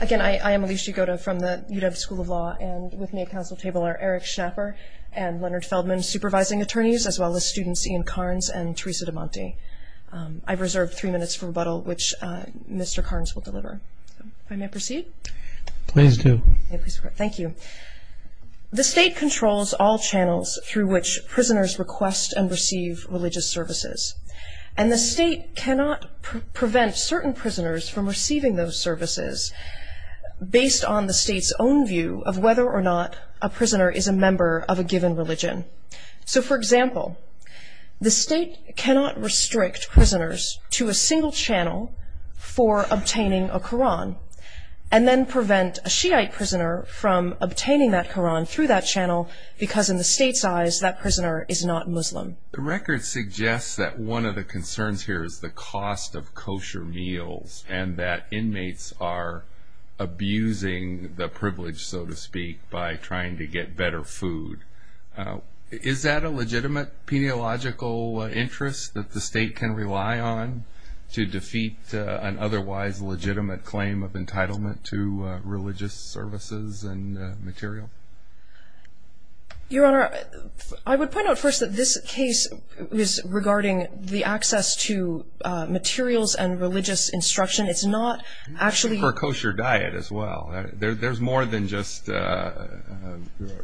Again, I am Alicia Gota from the UW School of Law, and with me at council table are Eric Schnapper and Leonard Feldman, supervising attorneys, as well as students Ian Carnes and Teresa Damonte. I've reserved three minutes for rebuttal, which Mr. Carnes will deliver. If I may proceed? Please do. Thank you. The state controls all channels through which prisoners request and receive religious services, and the state cannot prevent certain prisoners from receiving those services based on the state's own view of whether or not a prisoner is a member of a given religion. So, for example, the state cannot restrict prisoners to a single channel for obtaining a Koran and then prevent a Shiite prisoner from obtaining that Koran through that channel because in the state's eyes that prisoner is not Muslim. The record suggests that one of the concerns here is the cost of kosher meals and that inmates are abusing the privilege, so to speak, by trying to get better food. Is that a legitimate peniological interest that the state can rely on to defeat an otherwise legitimate claim of entitlement to religious services and material? Your Honor, I would point out first that this case is regarding the access to materials and religious instruction. It's not actually... For a kosher diet as well. There's more than just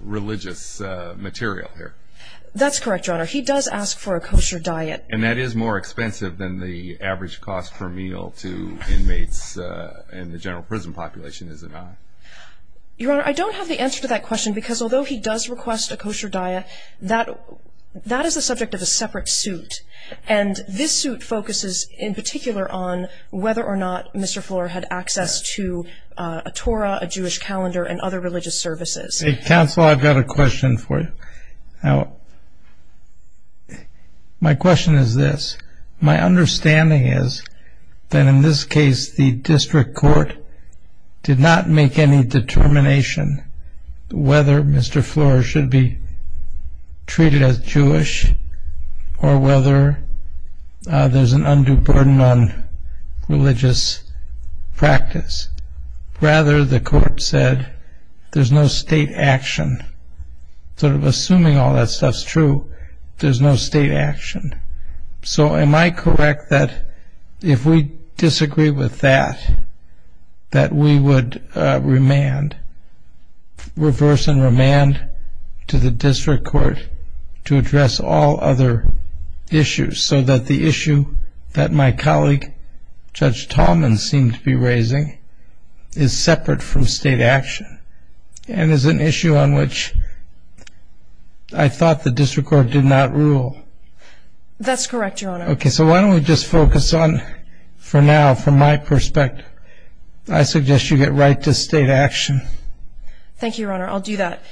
religious material here. That's correct, Your Honor. He does ask for a kosher diet. And that is more expensive than the average cost per meal to inmates in the general prison population, is it not? Your Honor, I don't have the answer to that question because although he does request a kosher diet, that is the subject of a separate suit. And this suit focuses in particular on whether or not Mr. Fuller had access to a Torah, a Jewish calendar, and other religious services. Counsel, I've got a question for you. My question is this. My understanding is that in this case, the district court did not make any determination whether Mr. Fuller should be treated as Jewish or whether there's an undue burden on religious practice. Rather, the court said there's no state action. Assuming all that stuff's true, there's no state action. So am I correct that if we disagree with that, that we would reverse and remand to the district court to address all other issues? So that the issue that my colleague, Judge Tallman, seemed to be raising is separate from state action and is an issue on which I thought the district court did not rule. That's correct, Your Honor. Okay, so why don't we just focus on, for now, from my perspective, I suggest you get right to state action. Thank you, Your Honor. I'll do that.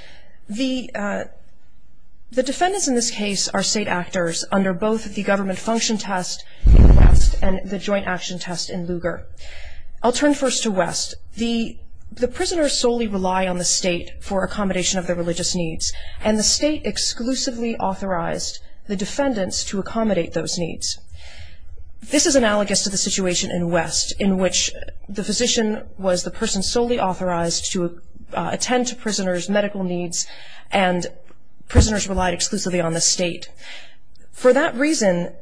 The defendants in this case are state actors under both the government function test in West and the joint action test in Lugar. I'll turn first to West. The prisoners solely rely on the state for accommodation of their religious needs, and the state exclusively authorized the defendants to accommodate those needs. This is analogous to the situation in West, in which the physician was the person solely authorized to attend to prisoners' medical needs, and prisoners relied exclusively on the state. For that reason,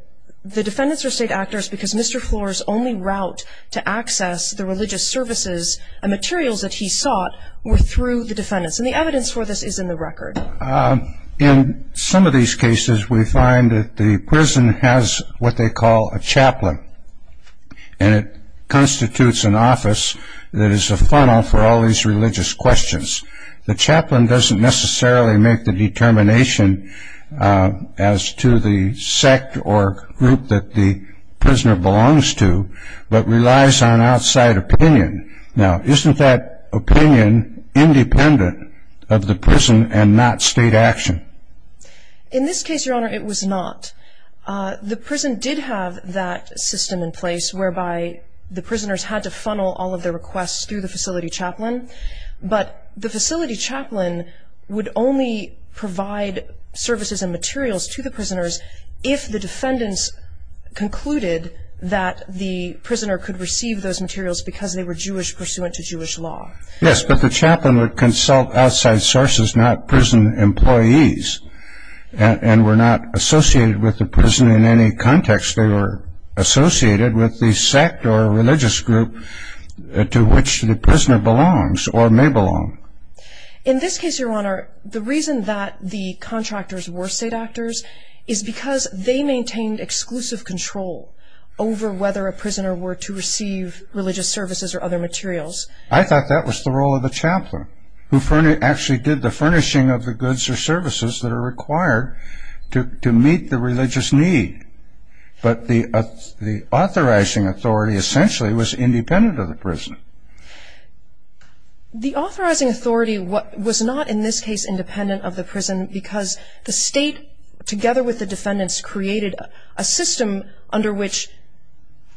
the defendants are state actors because Mr. Flores' only route to access the religious services and materials that he sought were through the defendants. And the evidence for this is in the record. In some of these cases, we find that the prison has what they call a chaplain, and it constitutes an office that is a funnel for all these religious questions. The chaplain doesn't necessarily make the determination as to the sect or group that the prisoner belongs to, but relies on outside opinion. Now, isn't that opinion independent of the prison and not state action? In this case, Your Honor, it was not. The prison did have that system in place whereby the prisoners had to funnel all of their requests through the facility chaplain, but the facility chaplain would only provide services and materials to the prisoners if the defendants concluded that the prisoner could receive those materials because they were Jewish pursuant to Jewish law. Yes, but the chaplain would consult outside sources, not prison employees, and were not associated with the prison in any context. They were associated with the sect or religious group to which the prisoner belongs or may belong. In this case, Your Honor, the reason that the contractors were state actors is because they maintained exclusive control over whether a prisoner were to receive religious services or other materials. I thought that was the role of the chaplain, who actually did the furnishing of the goods or services that are required to meet the religious need, but the authorizing authority essentially was independent of the prison. The authorizing authority was not, in this case, independent of the prison because the state, together with the defendants, created a system under which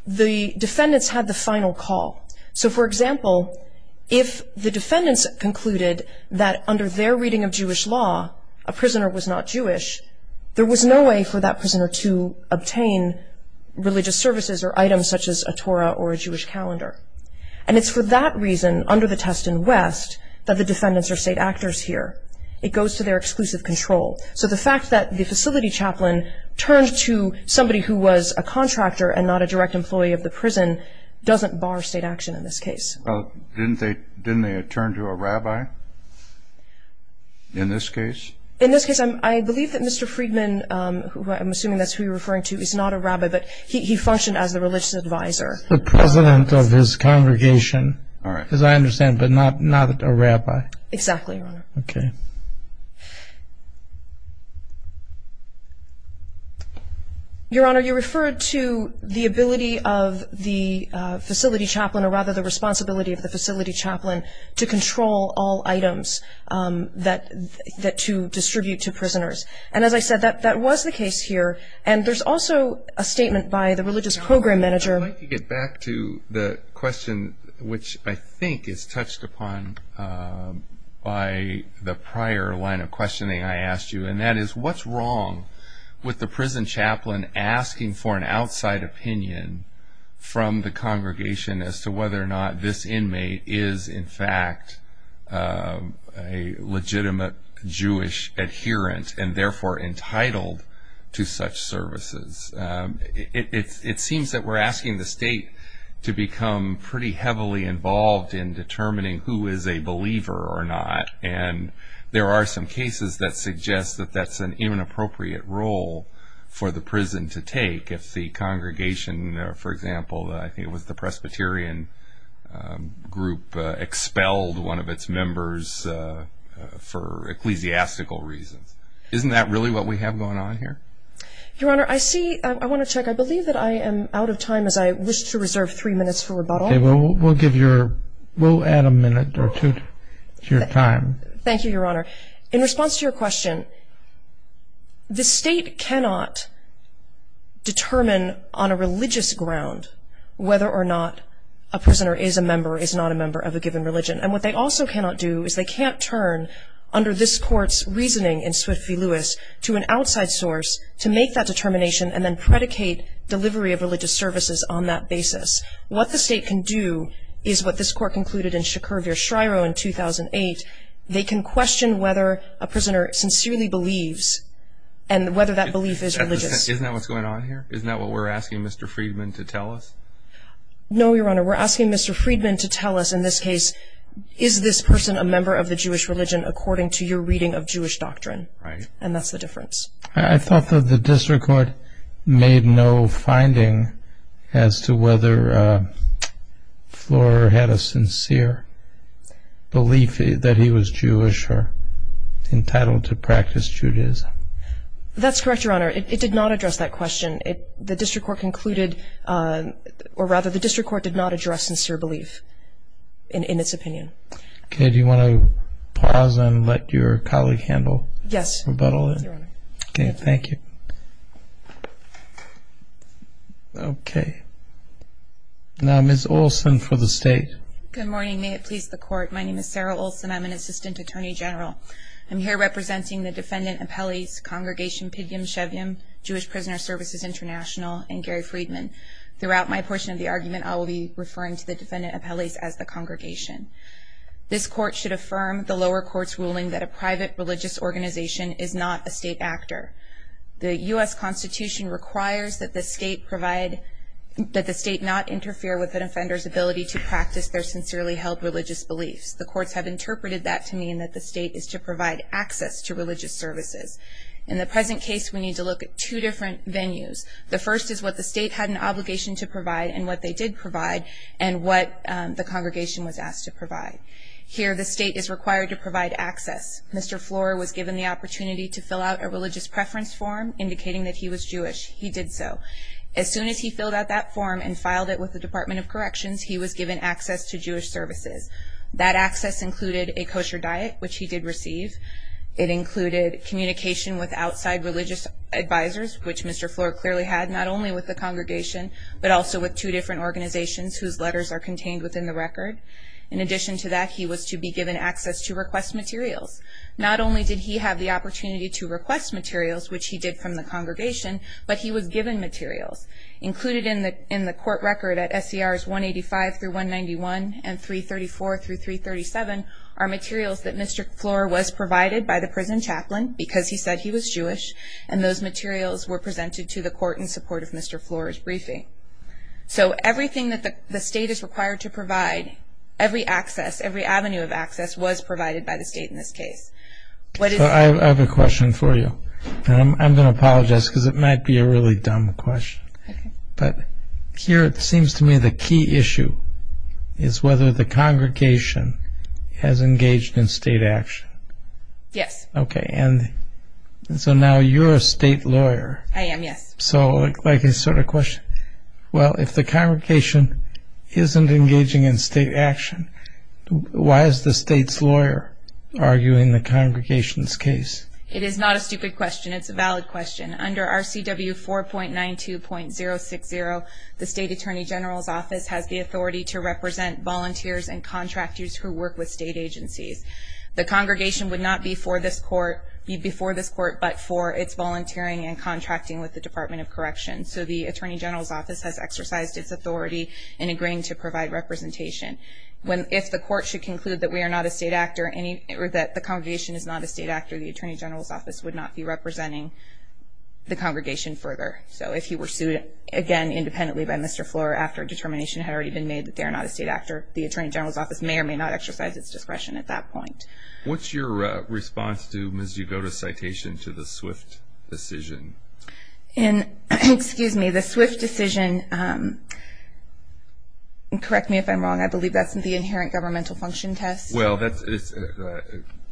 the defendants had the final call. So, for example, if the defendants concluded that under their reading of Jewish law a prisoner was not Jewish, there was no way for that prisoner to obtain religious services or items such as a Torah or a Jewish calendar. And it's for that reason, under the test in West, that the defendants are state actors here. It goes to their exclusive control. So the fact that the facility chaplain turned to somebody who was a contractor and not a direct employee of the prison doesn't bar state action in this case. Well, didn't they turn to a rabbi in this case? In this case, I believe that Mr. Friedman, who I'm assuming that's who you're referring to, is not a rabbi, but he functioned as the religious advisor. The president of his congregation, as I understand, but not a rabbi. Exactly, Your Honor. Okay. Your Honor, you referred to the ability of the facility chaplain, or rather the responsibility of the facility chaplain, to control all items to distribute to prisoners. And as I said, that was the case here. And there's also a statement by the religious program manager. Your Honor, I'd like to get back to the question, which I think is touched upon by the prior line of questioning I asked you, and that is what's wrong with the prison chaplain asking for an outside opinion from the congregation as to whether or not this inmate is, in fact, a legitimate Jewish adherent, and therefore entitled to such services. It seems that we're asking the state to become pretty heavily involved in determining who is a believer or not. And there are some cases that suggest that that's an inappropriate role for the prison to take. If the congregation, for example, I think it was the Presbyterian group, expelled one of its members for ecclesiastical reasons. Isn't that really what we have going on here? Your Honor, I want to check. I believe that I am out of time, as I wish to reserve three minutes for rebuttal. Okay. We'll add a minute or two to your time. Thank you, Your Honor. In response to your question, the state cannot determine on a religious ground whether or not a prisoner is a member or is not a member of a given religion. And what they also cannot do is they can't turn, under this Court's reasoning in Swift v. Lewis, to an outside source to make that determination and then predicate delivery of religious services on that basis. What the state can do is what this Court concluded in Shakur v. Shryo in 2008. They can question whether a prisoner sincerely believes and whether that belief is religious. Isn't that what's going on here? Isn't that what we're asking Mr. Friedman to tell us? No, Your Honor. We're asking Mr. Friedman to tell us, in this case, is this person a member of the Jewish religion according to your reading of Jewish doctrine? Right. And that's the difference. I thought that the district court made no finding as to whether Flora had a sincere belief that he was Jewish or entitled to practice Judaism. That's correct, Your Honor. It did not address that question. The district court concluded, or rather the district court did not address sincere belief in its opinion. Okay. Do you want to pause and let your colleague handle rebuttal? Yes, Your Honor. Okay. Thank you. Okay. Now Ms. Olson for the state. Good morning. May it please the Court. My name is Sarah Olson. I'm an assistant attorney general. I'm here representing the defendant appellees, Congregation Pidgim-Shevim, Jewish Prisoner Services International, and Gary Friedman. Throughout my portion of the argument, I will be referring to the defendant appellees as the congregation. This court should affirm the lower court's ruling that a private religious organization is not a state actor. The U.S. Constitution requires that the state not interfere with an offender's ability to practice their sincerely held religious beliefs. The courts have interpreted that to mean that the state is to provide access to religious services. In the present case, we need to look at two different venues. The first is what the state had an obligation to provide and what they did provide and what the congregation was asked to provide. Here the state is required to provide access. Mr. Flohr was given the opportunity to fill out a religious preference form indicating that he was Jewish. He did so. As soon as he filled out that form and filed it with the Department of Corrections, he was given access to Jewish services. That access included a kosher diet, which he did receive. It included communication with outside religious advisors, which Mr. Flohr clearly had, not only with the congregation but also with two different organizations whose letters are contained within the record. In addition to that, he was to be given access to request materials. Not only did he have the opportunity to request materials, which he did from the congregation, but he was given materials. Included in the court record at SCRs 185-191 and 334-337 are materials that Mr. Flohr was provided by the prison chaplain because he said he was Jewish, and those materials were presented to the court in support of Mr. Flohr's briefing. So everything that the state is required to provide, every access, every avenue of access was provided by the state in this case. I have a question for you, and I'm going to apologize because it might be a really dumb question. But here it seems to me the key issue is whether the congregation has engaged in state action. Yes. Okay, and so now you're a state lawyer. I am, yes. So like a sort of question, well, if the congregation isn't engaging in state action, why is the state's lawyer arguing the congregation's case? It is not a stupid question. It's a valid question. Under RCW 4.92.060, the state attorney general's office has the authority to represent volunteers and contractors who work with state agencies. The congregation would not be before this court but for its volunteering and contracting with the Department of Corrections. So the attorney general's office has exercised its authority in agreeing to provide representation. If the court should conclude that we are not a state actor, or that the congregation is not a state actor, the attorney general's office would not be representing the congregation further. So if he were sued again independently by Mr. Flohr after a determination had already been made that they are not a state actor, the attorney general's office may or may not exercise its discretion at that point. What's your response to Ms. Jugota's citation to the Swift decision? Excuse me, the Swift decision, correct me if I'm wrong, I believe that's the inherent governmental function test. Well,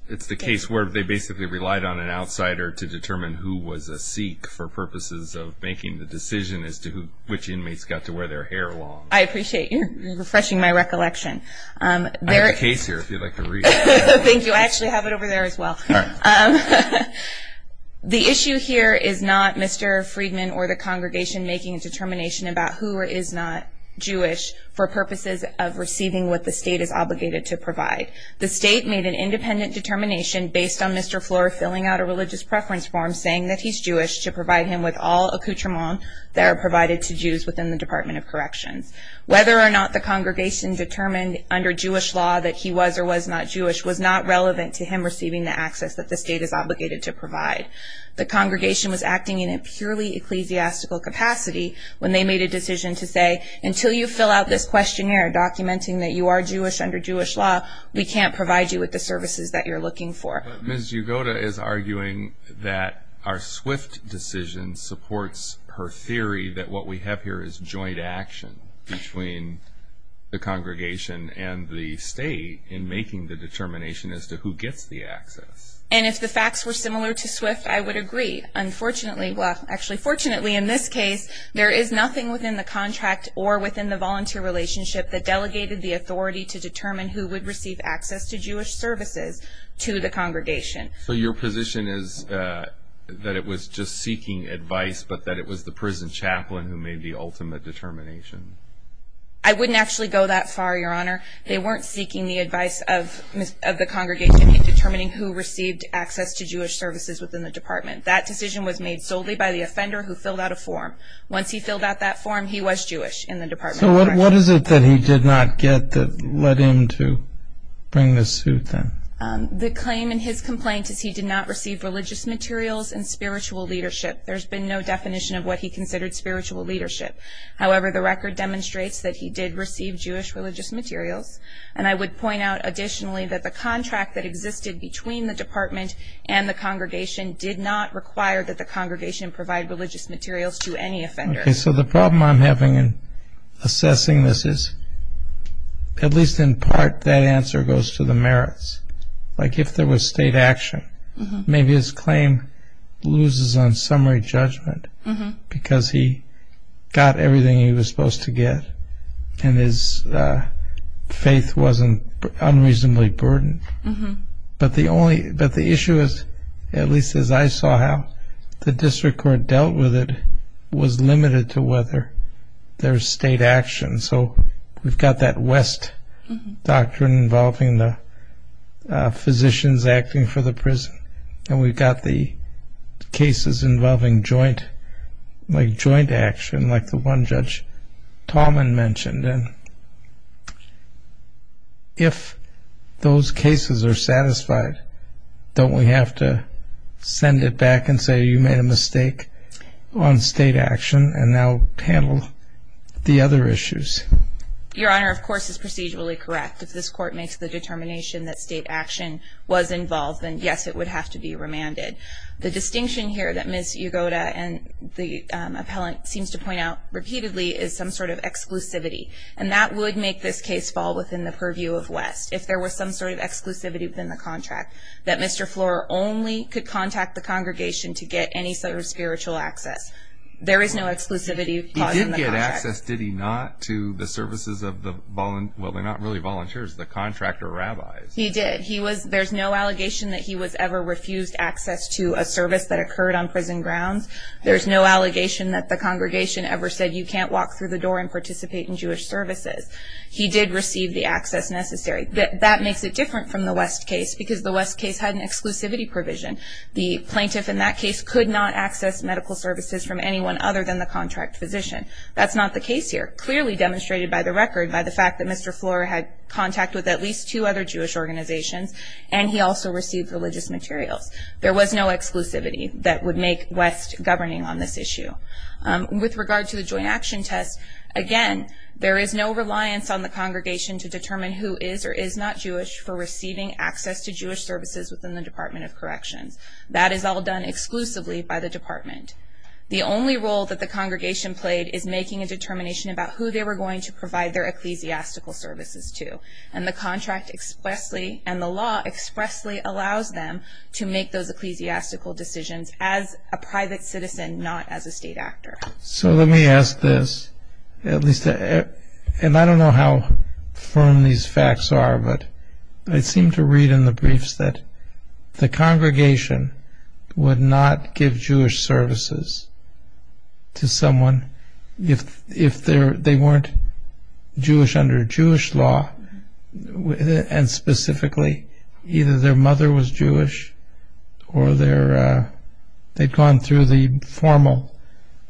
it's the case where they basically relied on an outsider to determine who was a Sikh for purposes of making the decision as to which inmates got to wear their hair long. I appreciate you refreshing my recollection. I have a case here if you'd like to read it. Thank you, I actually have it over there as well. The issue here is not Mr. Friedman or the congregation making a determination about who is not Jewish for purposes of receiving what the state is obligated to provide. The state made an independent determination based on Mr. Flohr filling out a religious preference form saying that he's Jewish to provide him with all accoutrements that are provided to Jews within the Department of Corrections. Whether or not the congregation determined under Jewish law that he was or was not Jewish was not relevant to him receiving the access that the state is obligated to provide. The congregation was acting in a purely ecclesiastical capacity when they made a decision to say, until you fill out this questionnaire documenting that you are Jewish under Jewish law, we can't provide you with the services that you're looking for. Ms. Yugota is arguing that our SWIFT decision supports her theory that what we have here is joint action between the congregation and the state in making the determination as to who gets the access. And if the facts were similar to SWIFT, I would agree. Unfortunately, well, actually fortunately in this case, there is nothing within the contract or within the volunteer relationship that delegated the authority to determine who would receive access to Jewish services to the congregation. So your position is that it was just seeking advice, but that it was the prison chaplain who made the ultimate determination? I wouldn't actually go that far, Your Honor. They weren't seeking the advice of the congregation in determining who received access to Jewish services within the department. That decision was made solely by the offender who filled out a form. So what is it that he did not get that led him to bring this suit then? The claim in his complaint is he did not receive religious materials and spiritual leadership. There's been no definition of what he considered spiritual leadership. However, the record demonstrates that he did receive Jewish religious materials. And I would point out additionally that the contract that existed between the department and the congregation did not require that the congregation provide religious materials to any offender. So the problem I'm having in assessing this is, at least in part, that answer goes to the merits. Like if there was state action, maybe his claim loses on summary judgment because he got everything he was supposed to get and his faith wasn't unreasonably burdened. But the issue is, at least as I saw how, the district court dealt with it was limited to whether there's state action. So we've got that West doctrine involving the physicians acting for the prison and we've got the cases involving joint action like the one Judge Tallman mentioned. And if those cases are satisfied, don't we have to send it back and say, you made a mistake on state action and now handle the other issues? Your Honor, of course, it's procedurally correct. If this court makes the determination that state action was involved, then yes, it would have to be remanded. The distinction here that Ms. Yagoda and the appellant seems to point out repeatedly is some sort of exclusivity. And that would make this case fall within the purview of West. If there was some sort of exclusivity within the contract, that Mr. Flohr only could contact the congregation to get any sort of spiritual access. There is no exclusivity caused in the contract. He did get access, did he not, to the services of the, well, they're not really volunteers, the contractor rabbis. He did. There's no allegation that he was ever refused access to a service that occurred on prison grounds. There's no allegation that the congregation ever said, you can't walk through the door and participate in Jewish services. He did receive the access necessary. That makes it different from the West case because the West case had an exclusivity provision. The plaintiff in that case could not access medical services from anyone other than the contract physician. That's not the case here. It is clearly demonstrated by the record by the fact that Mr. Flohr had contact with at least two other Jewish organizations, and he also received religious materials. There was no exclusivity that would make West governing on this issue. With regard to the joint action test, again, there is no reliance on the congregation to determine who is or is not Jewish for receiving access to Jewish services within the Department of Corrections. That is all done exclusively by the department. The only role that the congregation played is making a determination about who they were going to provide their ecclesiastical services to, and the contract expressly and the law expressly allows them to make those ecclesiastical decisions as a private citizen, not as a state actor. So let me ask this, and I don't know how firm these facts are, but I seem to read in the briefs that the congregation would not give Jewish services to someone if they weren't Jewish under Jewish law, and specifically either their mother was Jewish or they'd gone through the formal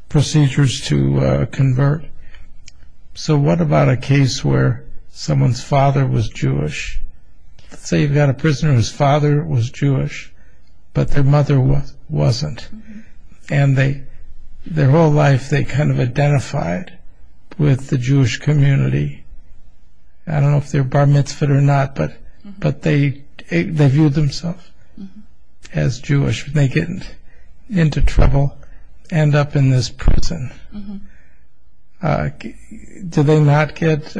procedures to convert. So what about a case where someone's father was Jewish? Say you've got a prisoner whose father was Jewish, but their mother wasn't, and their whole life they kind of identified with the Jewish community. I don't know if they were bar mitzvahed or not, but they viewed themselves as Jewish. If they get into trouble, end up in this prison, do they not get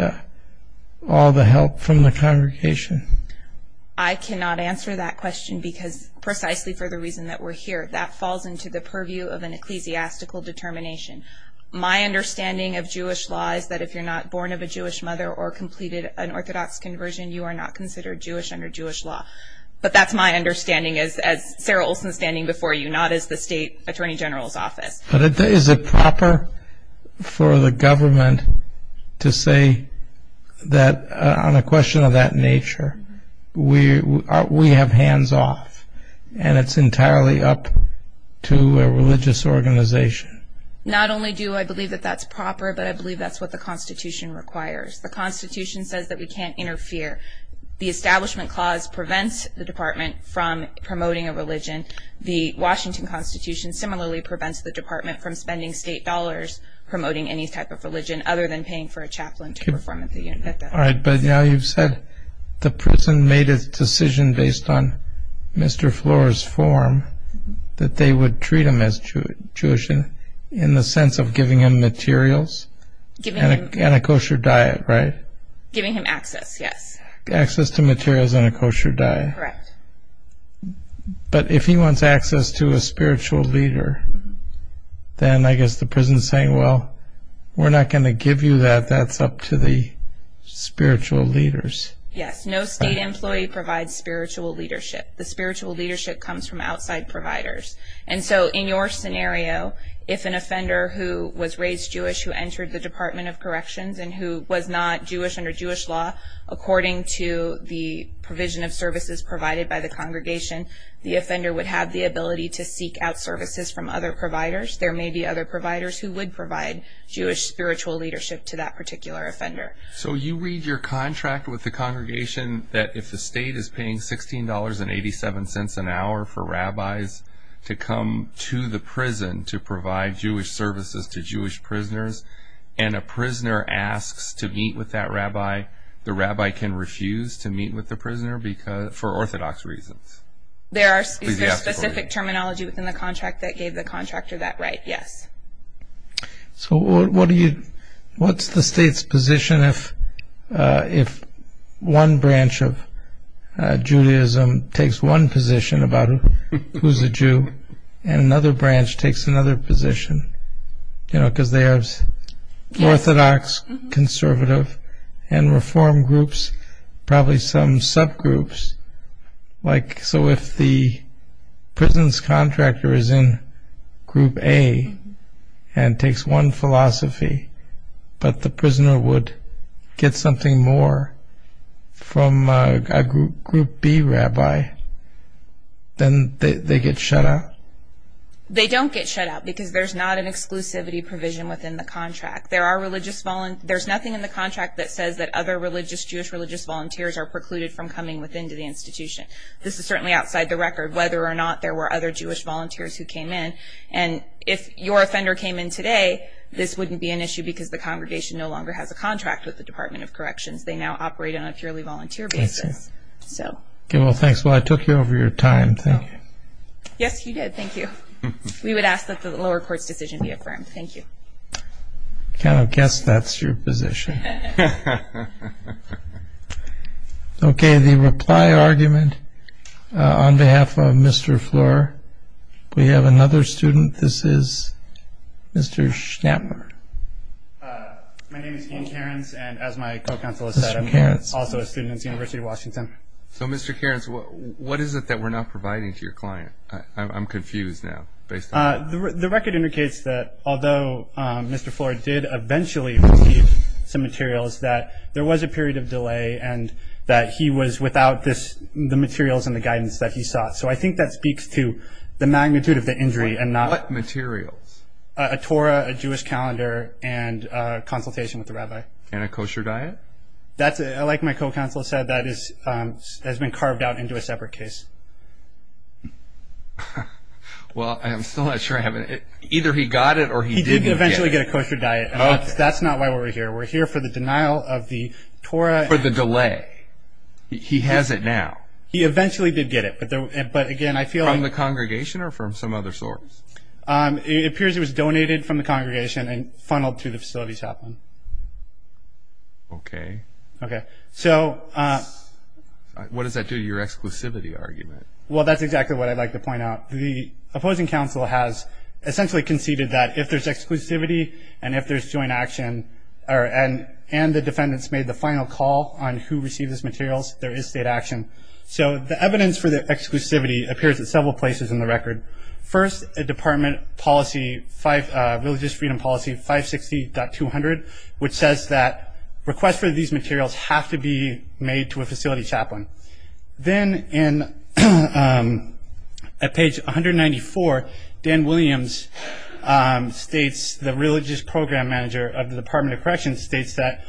all the help from the congregation? I cannot answer that question because precisely for the reason that we're here, that falls into the purview of an ecclesiastical determination. My understanding of Jewish law is that if you're not born of a Jewish mother or completed an Orthodox conversion, you are not considered Jewish under Jewish law. But that's my understanding as Sarah Olson standing before you, not as the State Attorney General's office. But is it proper for the government to say that on a question of that nature, we have hands off and it's entirely up to a religious organization? Not only do I believe that that's proper, but I believe that's what the Constitution requires. The Constitution says that we can't interfere. The Establishment Clause prevents the department from promoting a religion. The Washington Constitution similarly prevents the department from spending state dollars promoting any type of religion other than paying for a chaplain to perform at the university. All right, but now you've said the prison made a decision based on Mr. Floor's form that they would treat him as Jewish in the sense of giving him materials and a kosher diet, right? Giving him access, yes. Access to materials and a kosher diet. Correct. But if he wants access to a spiritual leader, then I guess the prison is saying, well, we're not going to give you that. That's up to the spiritual leaders. Yes, no state employee provides spiritual leadership. The spiritual leadership comes from outside providers. And so in your scenario, if an offender who was raised Jewish, who entered the Department of Corrections, and who was not Jewish under Jewish law, according to the provision of services provided by the congregation, the offender would have the ability to seek out services from other providers. There may be other providers who would provide Jewish spiritual leadership to that particular offender. So you read your contract with the congregation that if the state is paying $16.87 an hour for rabbis to come to the prison to provide Jewish services to Jewish prisoners, and a prisoner asks to meet with that rabbi, the rabbi can refuse to meet with the prisoner for Orthodox reasons. Is there specific terminology within the contract that gave the contractor that right? Yes. So what's the state's position if one branch of Judaism takes one position about who's a Jew, and another branch takes another position? Because they have Orthodox, conservative, and Reform groups, probably some subgroups. So if the prison's contractor is in Group A and takes one philosophy, but the prisoner would get something more from a Group B rabbi, then they get shut out? They don't get shut out because there's not an exclusivity provision within the contract. There's nothing in the contract that says that other Jewish religious volunteers are precluded from coming within to the institution. This is certainly outside the record, whether or not there were other Jewish volunteers who came in. And if your offender came in today, this wouldn't be an issue because the congregation no longer has a contract with the Department of Corrections. They now operate on a purely volunteer basis. Well, thanks. I took you over your time. Thank you. Yes, you did. Thank you. We would ask that the lower court's decision be affirmed. Thank you. I kind of guess that's your position. Okay, the reply argument on behalf of Mr. Flohr. We have another student. This is Mr. Schnapper. My name is Ian Cairns, and as my co-counsel has said, I'm also a student at the University of Washington. So, Mr. Cairns, what is it that we're not providing to your client? I'm confused now. The record indicates that although Mr. Flohr did eventually receive some materials, that there was a period of delay and that he was without the materials and the guidance that he sought. So I think that speaks to the magnitude of the injury. What materials? A Torah, a Jewish calendar, and a consultation with the rabbi. And a kosher diet? Like my co-counsel said, that has been carved out into a separate case. Well, I'm still not sure I have it. Either he got it or he didn't get it. He did eventually get a kosher diet, and that's not why we're here. We're here for the denial of the Torah. For the delay. He has it now. He eventually did get it, but again, I feel... From the congregation or from some other source? It appears it was donated from the congregation and funneled to the facility chaplain. Okay. What does that do to your exclusivity argument? Well, that's exactly what I'd like to point out. The opposing counsel has essentially conceded that if there's exclusivity and if there's joint action, and the defendants made the final call on who received those materials, there is state action. So the evidence for the exclusivity appears at several places in the record. First, a department policy, religious freedom policy 560.200, which says that requests for these materials have to be made to a facility chaplain. Then at page 194, Dan Williams states, the religious program manager of the Department of Corrections states that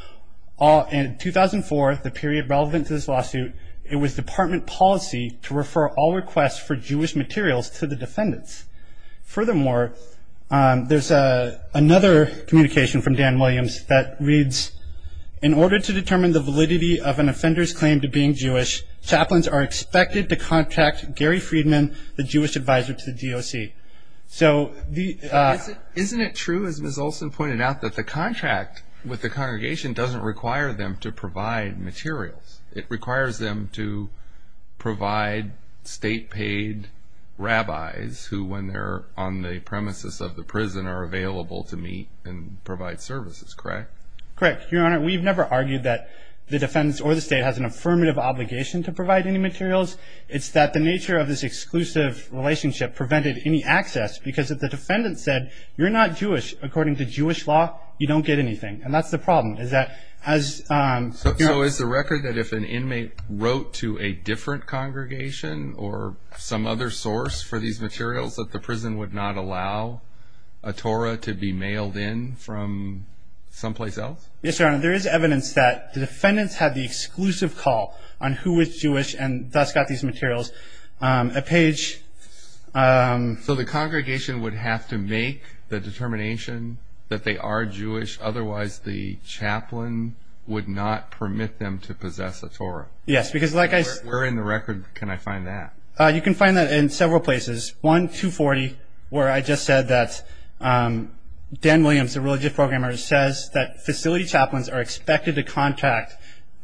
in 2004, the period relevant to this lawsuit, it was department policy to refer all requests for Jewish materials to the defendants. Furthermore, there's another communication from Dan Williams that reads, in order to determine the validity of an offender's claim to being Jewish, chaplains are expected to contact Gary Friedman, the Jewish advisor to the DOC. Isn't it true, as Ms. Olson pointed out, that the contract with the congregation doesn't require them to provide materials? It requires them to provide state-paid rabbis who, when they're on the premises of the prison, are available to meet and provide services, correct? Correct. Your Honor, we've never argued that the defendants or the state has an affirmative obligation to provide any materials. It's that the nature of this exclusive relationship prevented any access because if the defendant said, you're not Jewish according to Jewish law, you don't get anything. And that's the problem. So is the record that if an inmate wrote to a different congregation or some other source for these materials, that the prison would not allow a Torah to be mailed in from someplace else? Yes, Your Honor. There is evidence that the defendants had the exclusive call on who was Jewish and thus got these materials. So the congregation would have to make the determination that they are Jewish, otherwise the chaplain would not permit them to possess a Torah? Yes. Where in the record can I find that? You can find that in several places. One, 240, where I just said that Dan Williams, a religious programmer, says that facility chaplains are expected to contact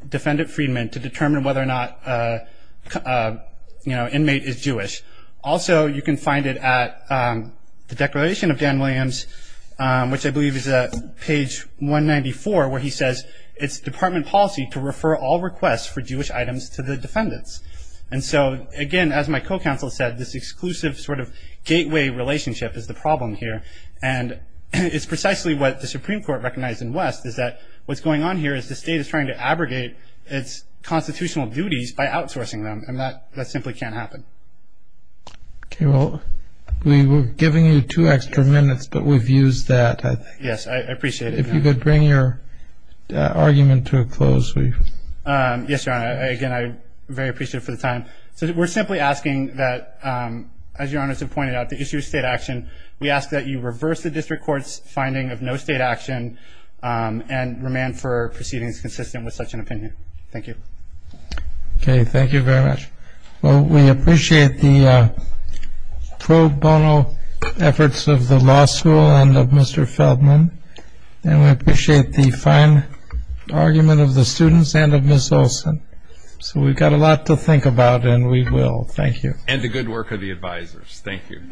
Defendant Friedman to determine whether or not an inmate is Jewish. Also, you can find it at the Declaration of Dan Williams, which I believe is at page 194, where he says, it's department policy to refer all requests for Jewish items to the defendants. And so, again, as my co-counsel said, this exclusive sort of gateway relationship is the problem here. And it's precisely what the Supreme Court recognized in West, is that what's going on here is the state is trying to abrogate its constitutional duties by outsourcing them, and that simply can't happen. Okay. Well, we were giving you two extra minutes, but we've used that, I think. Yes, I appreciate it. If you could bring your argument to a close. Yes, Your Honor. Again, I'm very appreciative for the time. So we're simply asking that, as Your Honors have pointed out, the issue of state action, we ask that you reverse the district court's finding of no state action and remand for proceedings consistent with such an opinion. Thank you. Okay. Thank you very much. Well, we appreciate the pro bono efforts of the law school and of Mr. Feldman, and we appreciate the fine argument of the students and of Ms. Olson. So we've got a lot to think about, and we will. Thank you. And the good work of the advisors. Thank you.